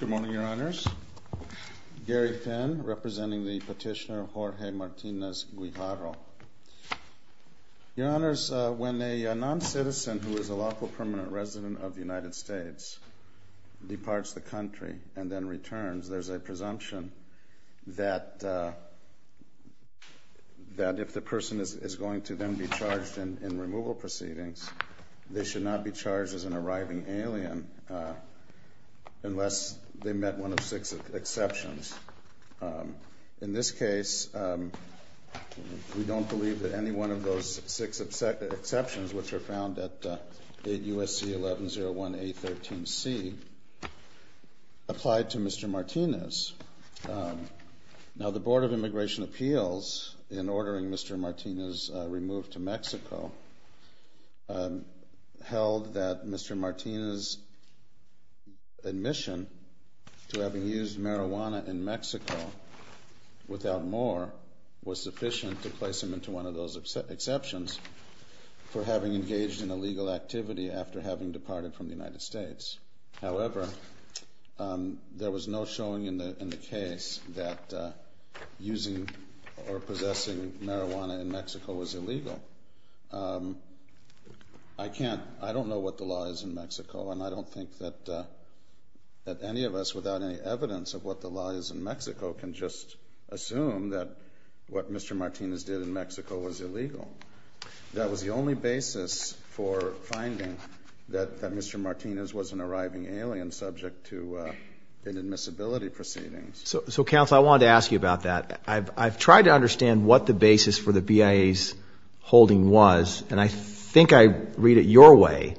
Good morning, Your Honors. Gary Finn, representing the petitioner Jorge Martinez-Guijarro. Your Honors, when a non-citizen who is a lawful permanent resident of the United States departs the country and then returns, there's a presumption that if the person is going to then be charged in removal proceedings, they should not be charged as an arriving alien unless they met one of six exceptions. In this case, we don't believe that any one of those six exceptions, which are found at 8 U.S.C. 1101 A13C, applied to Mr. Martinez. Now the Board of Immigration Appeals, in ordering Mr. Martinez removed to Mexico, held that Mr. Martinez' admission to having used marijuana in Mexico without more was sufficient to place him into one of those exceptions for having engaged in illegal activity after having departed from the United States. However, there was no showing in the case that using or possessing marijuana in Mexico, I can't, I don't know what the law is in Mexico, and I don't think that any of us without any evidence of what the law is in Mexico can just assume that what Mr. Martinez did in Mexico was illegal. That was the only basis for finding that Mr. Martinez was an arriving alien subject to inadmissibility proceedings. So Counsel, I wanted to ask you about that. I've tried to understand what the And I think I read it your way,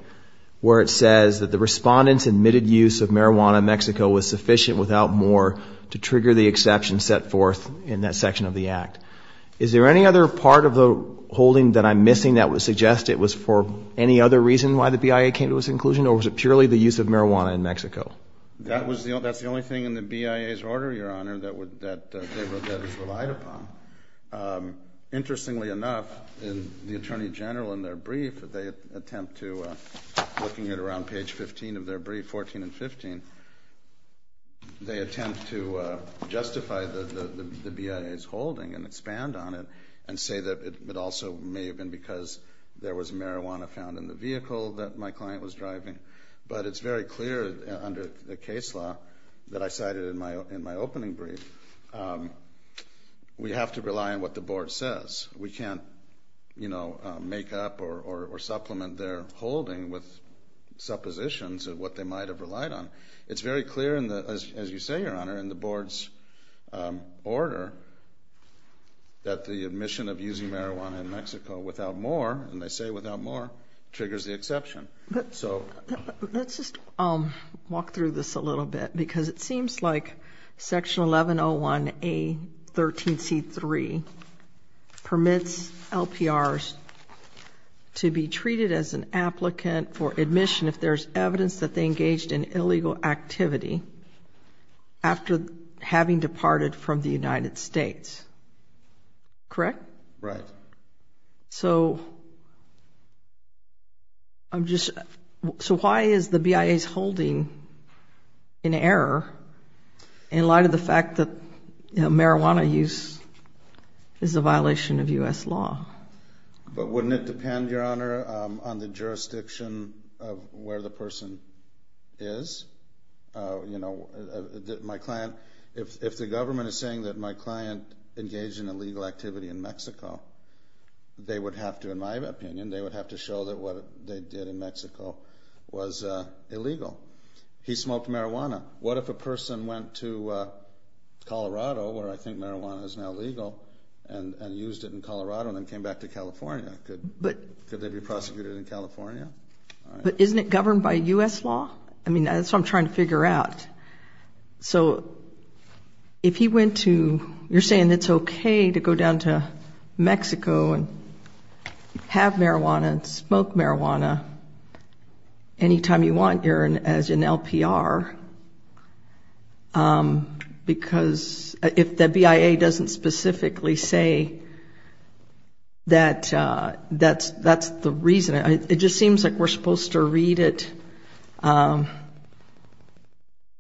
where it says that the Respondent's admitted use of marijuana in Mexico was sufficient without more to trigger the exception set forth in that section of the Act. Is there any other part of the holding that I'm missing that would suggest it was for any other reason why the BIA came to its conclusion, or was it purely the use of marijuana in Mexico? That was the only, that's the only thing in the BIA's order, Your Honor, that relied upon. Interestingly enough, in the Attorney General, in their brief, they attempt to, looking at around page 15 of their brief, 14 and 15, they attempt to justify the BIA's holding and expand on it, and say that it also may have been because there was marijuana found in the vehicle that my client was driving. But it's very clear under the case law that I cited in my opening brief, we have to rely on what the Board says. We can't, you know, make up or supplement their holding with suppositions of what they might have relied on. It's very clear in the, as you say, Your Honor, in the Board's order that the admission of using marijuana in Mexico without more, and they say without more, triggers the exception. So let's just walk through this a little bit, because it seems like section 1101A13C3 permits LPRs to be treated as an applicant for admission if there's evidence that they engaged in illegal activity after having departed from the state. So why is the BIA's holding in error in light of the fact that marijuana use is a violation of U.S. law? But wouldn't it depend, Your Honor, on the jurisdiction of where the person is? You know, my client, if the government is saying that my client engaged in illegal activity in Mexico, they would have to, in Mexico, was illegal. He smoked marijuana. What if a person went to Colorado, where I think marijuana is now legal, and used it in Colorado and then came back to California? Could they be prosecuted in California? But isn't it governed by U.S. law? I mean, that's what I'm trying to figure out. So if he went to, you're anytime you want, Erin, as an LPR, because if the BIA doesn't specifically say that that's the reason, it just seems like we're supposed to read it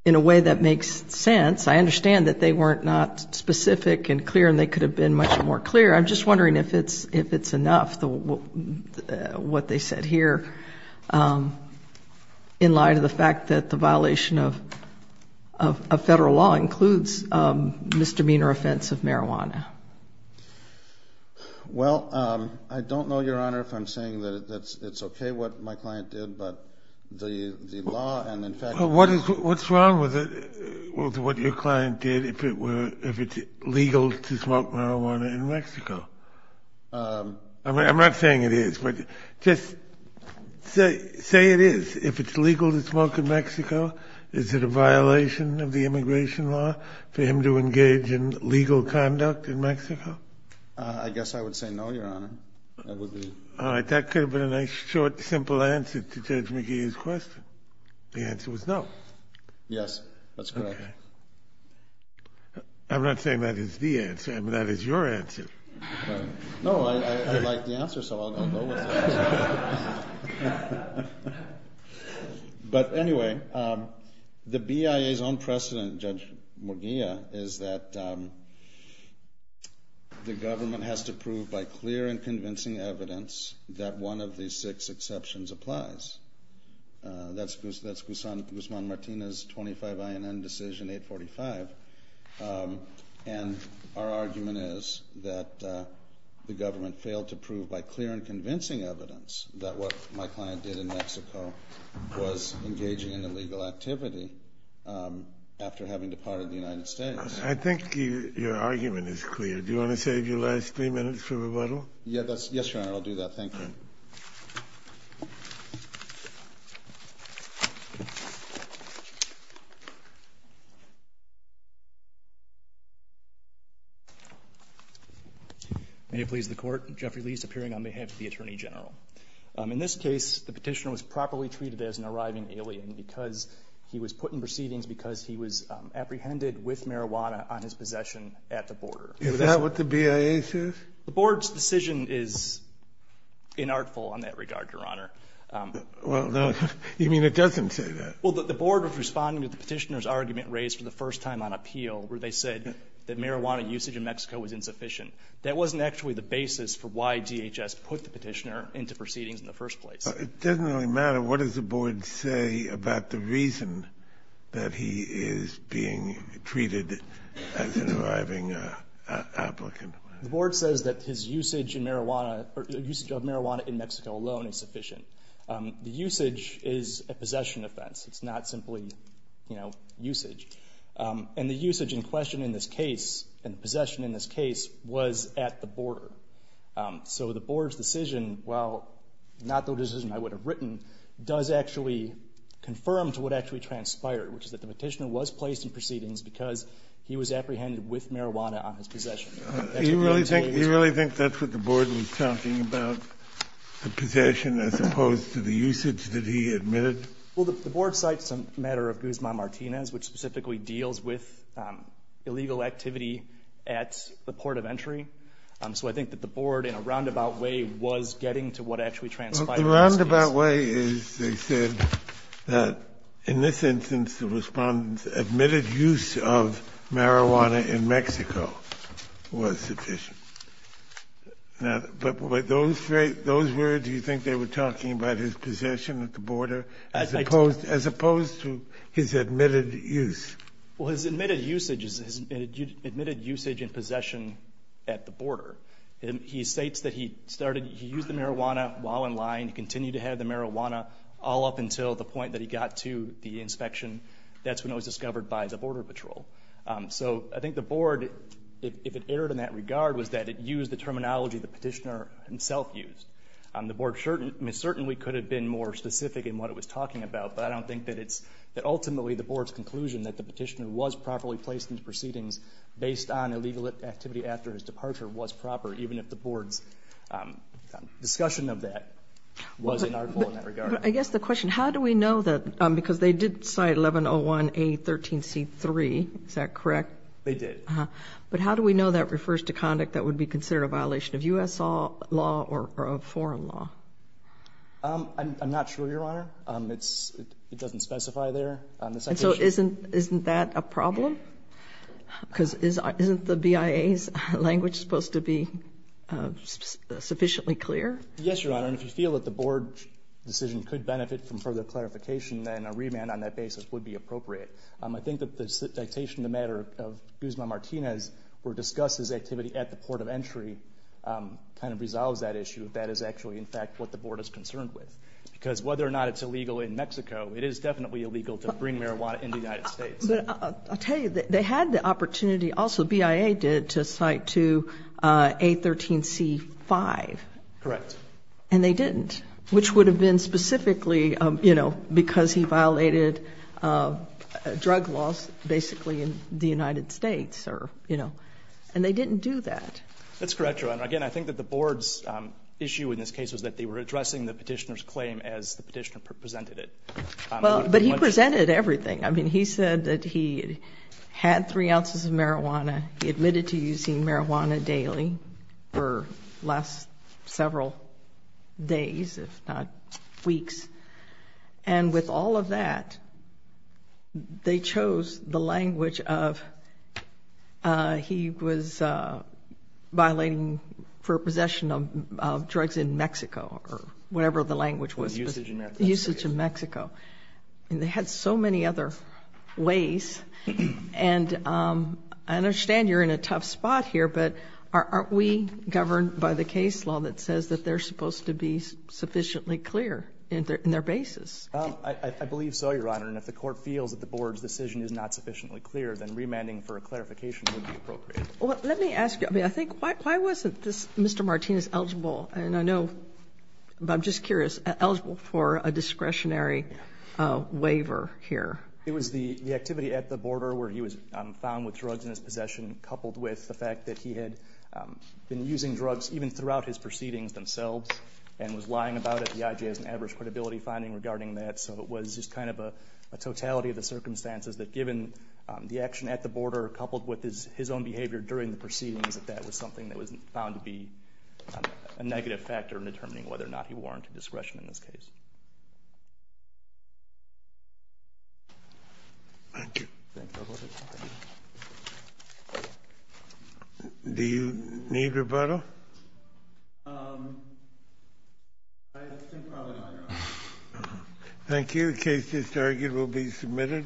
in a way that makes sense. I understand that they weren't not specific and clear, and they could have been much more clear. I'm just wondering if it's enough, what they said here, in light of the fact that the violation of federal law includes misdemeanor offense of marijuana. Well, I don't know, Your Honor, if I'm saying that it's okay what my client did, but the law and, in fact... What's wrong with what your client did, if it's legal to smoke marijuana in Mexico? I'm not saying it is, but just say it is. If it's legal to smoke in Mexico, is it a violation of the immigration law for him to engage in legal conduct in Mexico? I guess I would say no, Your Honor. All right, that could have been a nice, short, simple answer to Judge McGee's question. The answer was no. Yes, that's correct. I'm not saying that is the answer, but that is your answer. No, I like the answer, so I'll go with it. But anyway, the BIA's own precedent, Judge McGee, is that the government has to prove by clear and convincing evidence that one of these six exceptions applies. That's Guzman Martinez 25 INN decision 845, and our argument is that the government failed to prove by clear and convincing evidence that what my client did in Mexico was engaging in illegal activity after having departed the United States. I think your argument is clear. Do you want to save your last three minutes for rebuttal? Yes, Your Honor, I'll do that. Thank you. May it please the Court. Jeffrey Leis, appearing on behalf of the Attorney General. In this case, the Petitioner was properly treated as an arriving alien because he was put in proceedings because he was apprehended with marijuana on his possession at the border. Is that what the BIA says? The Board's decision is inartful on that regard, Your Honor. Well, no, you mean it doesn't say that. Well, the Board was responding to the Petitioner's argument raised for the first time on appeal, where they said that marijuana usage in Mexico was insufficient. That wasn't actually the basis for why DHS put the Petitioner into proceedings in the first place. It doesn't really matter what does the Board say about the reason that he is being treated as an arriving applicant. The Board says that his usage of marijuana in Mexico alone is sufficient. The usage is a possession offense. It's not simply, you know, usage. And the usage in question in this case, and the possession in this case, was at the border. So the Board's decision, while not the decision I would have written, does actually confirm to what actually transpired, which is that the Petitioner was placed in proceedings because he was apprehended with marijuana on his possession. Do you really think that's what the Board was talking about, the possession as opposed to the usage that he admitted? Well, the Board cites a matter of Guzman-Martinez, which specifically deals with illegal activity at the port of entry. So I think that the Board, in a roundabout way, was getting to what actually transpired in this case. The roundabout way is, they said, that in this instance, the Respondent's admitted use of marijuana in Mexico was sufficient. But those were, do you think they were talking about his possession at the border as opposed to his admitted use? Well, his admitted usage is his admitted usage and possession at the border. He states that he started, he used the marijuana while in line. He continued to have the marijuana all up until the point that he got to the inspection. That's when it was discovered by the Border Patrol. So I think the Board, if it erred in that regard, was that it used the terminology the Petitioner himself used. The Board certainly could have been more specific in what it was talking about, but I don't think that it's, that ultimately the Board's conclusion that the Petitioner was properly placed in proceedings based on illegal activity after his departure was proper, even if the Board's discussion of that wasn't artful in that regard. I guess the question, how do we know that, because they did cite 1101A13C3, is that correct? They did. But how do we know that refers to conduct that would be considered a foreign law? I'm not sure, Your Honor. It's, it doesn't specify there. And so isn't, isn't that a problem? Because isn't the BIA's language supposed to be sufficiently clear? Yes, Your Honor. And if you feel that the Board decision could benefit from further clarification, then a remand on that basis would be appropriate. I think that the citation in the matter of Guzman Martinez, where it discusses activity at the port of entry, kind of resolves that issue. That is actually, in fact, what the Board is concerned with. Because whether or not it's illegal in Mexico, it is definitely illegal to bring marijuana into the United States. But I'll tell you, they had the opportunity, also BIA did, to cite to A13C5. Correct. And they didn't, which would have been specifically, you know, because he violated drug laws, basically, in the United States or, you know, and they didn't do that. That's correct, Your Honor. Again, I think that the Board's issue in this case was that they were addressing the petitioner's claim as the petitioner presented it. Well, but he presented everything. I mean, he said that he had three ounces of marijuana. He admitted to using marijuana daily for the last several days, if not violating for possession of drugs in Mexico, or whatever the language was. Was usage in Mexico. Usage in Mexico. And they had so many other ways. And I understand you're in a tough spot here, but aren't we governed by the case law that says that they're supposed to be sufficiently clear in their basis? I believe so, Your Honor. And if the Court feels that the Board's decision is not sufficiently clear, then remanding for a clarification would be appropriate. Let me ask you, I mean, I think, why wasn't this Mr. Martinez eligible? And I know, but I'm just curious, eligible for a discretionary waiver here? It was the activity at the border where he was found with drugs in his possession coupled with the fact that he had been using drugs even throughout his proceedings themselves and was lying about it. The IJ has an average credibility finding regarding that. So it was just kind of a totality of the circumstances that given the action at the border coupled with his own behavior during the proceedings that that was something that was found to be a negative factor in determining whether or not he warranted discretion in this case. Thank you. Do you need rebuttal? Um, I think probably not, Your Honor. Thank you. The case is argued will be submitted.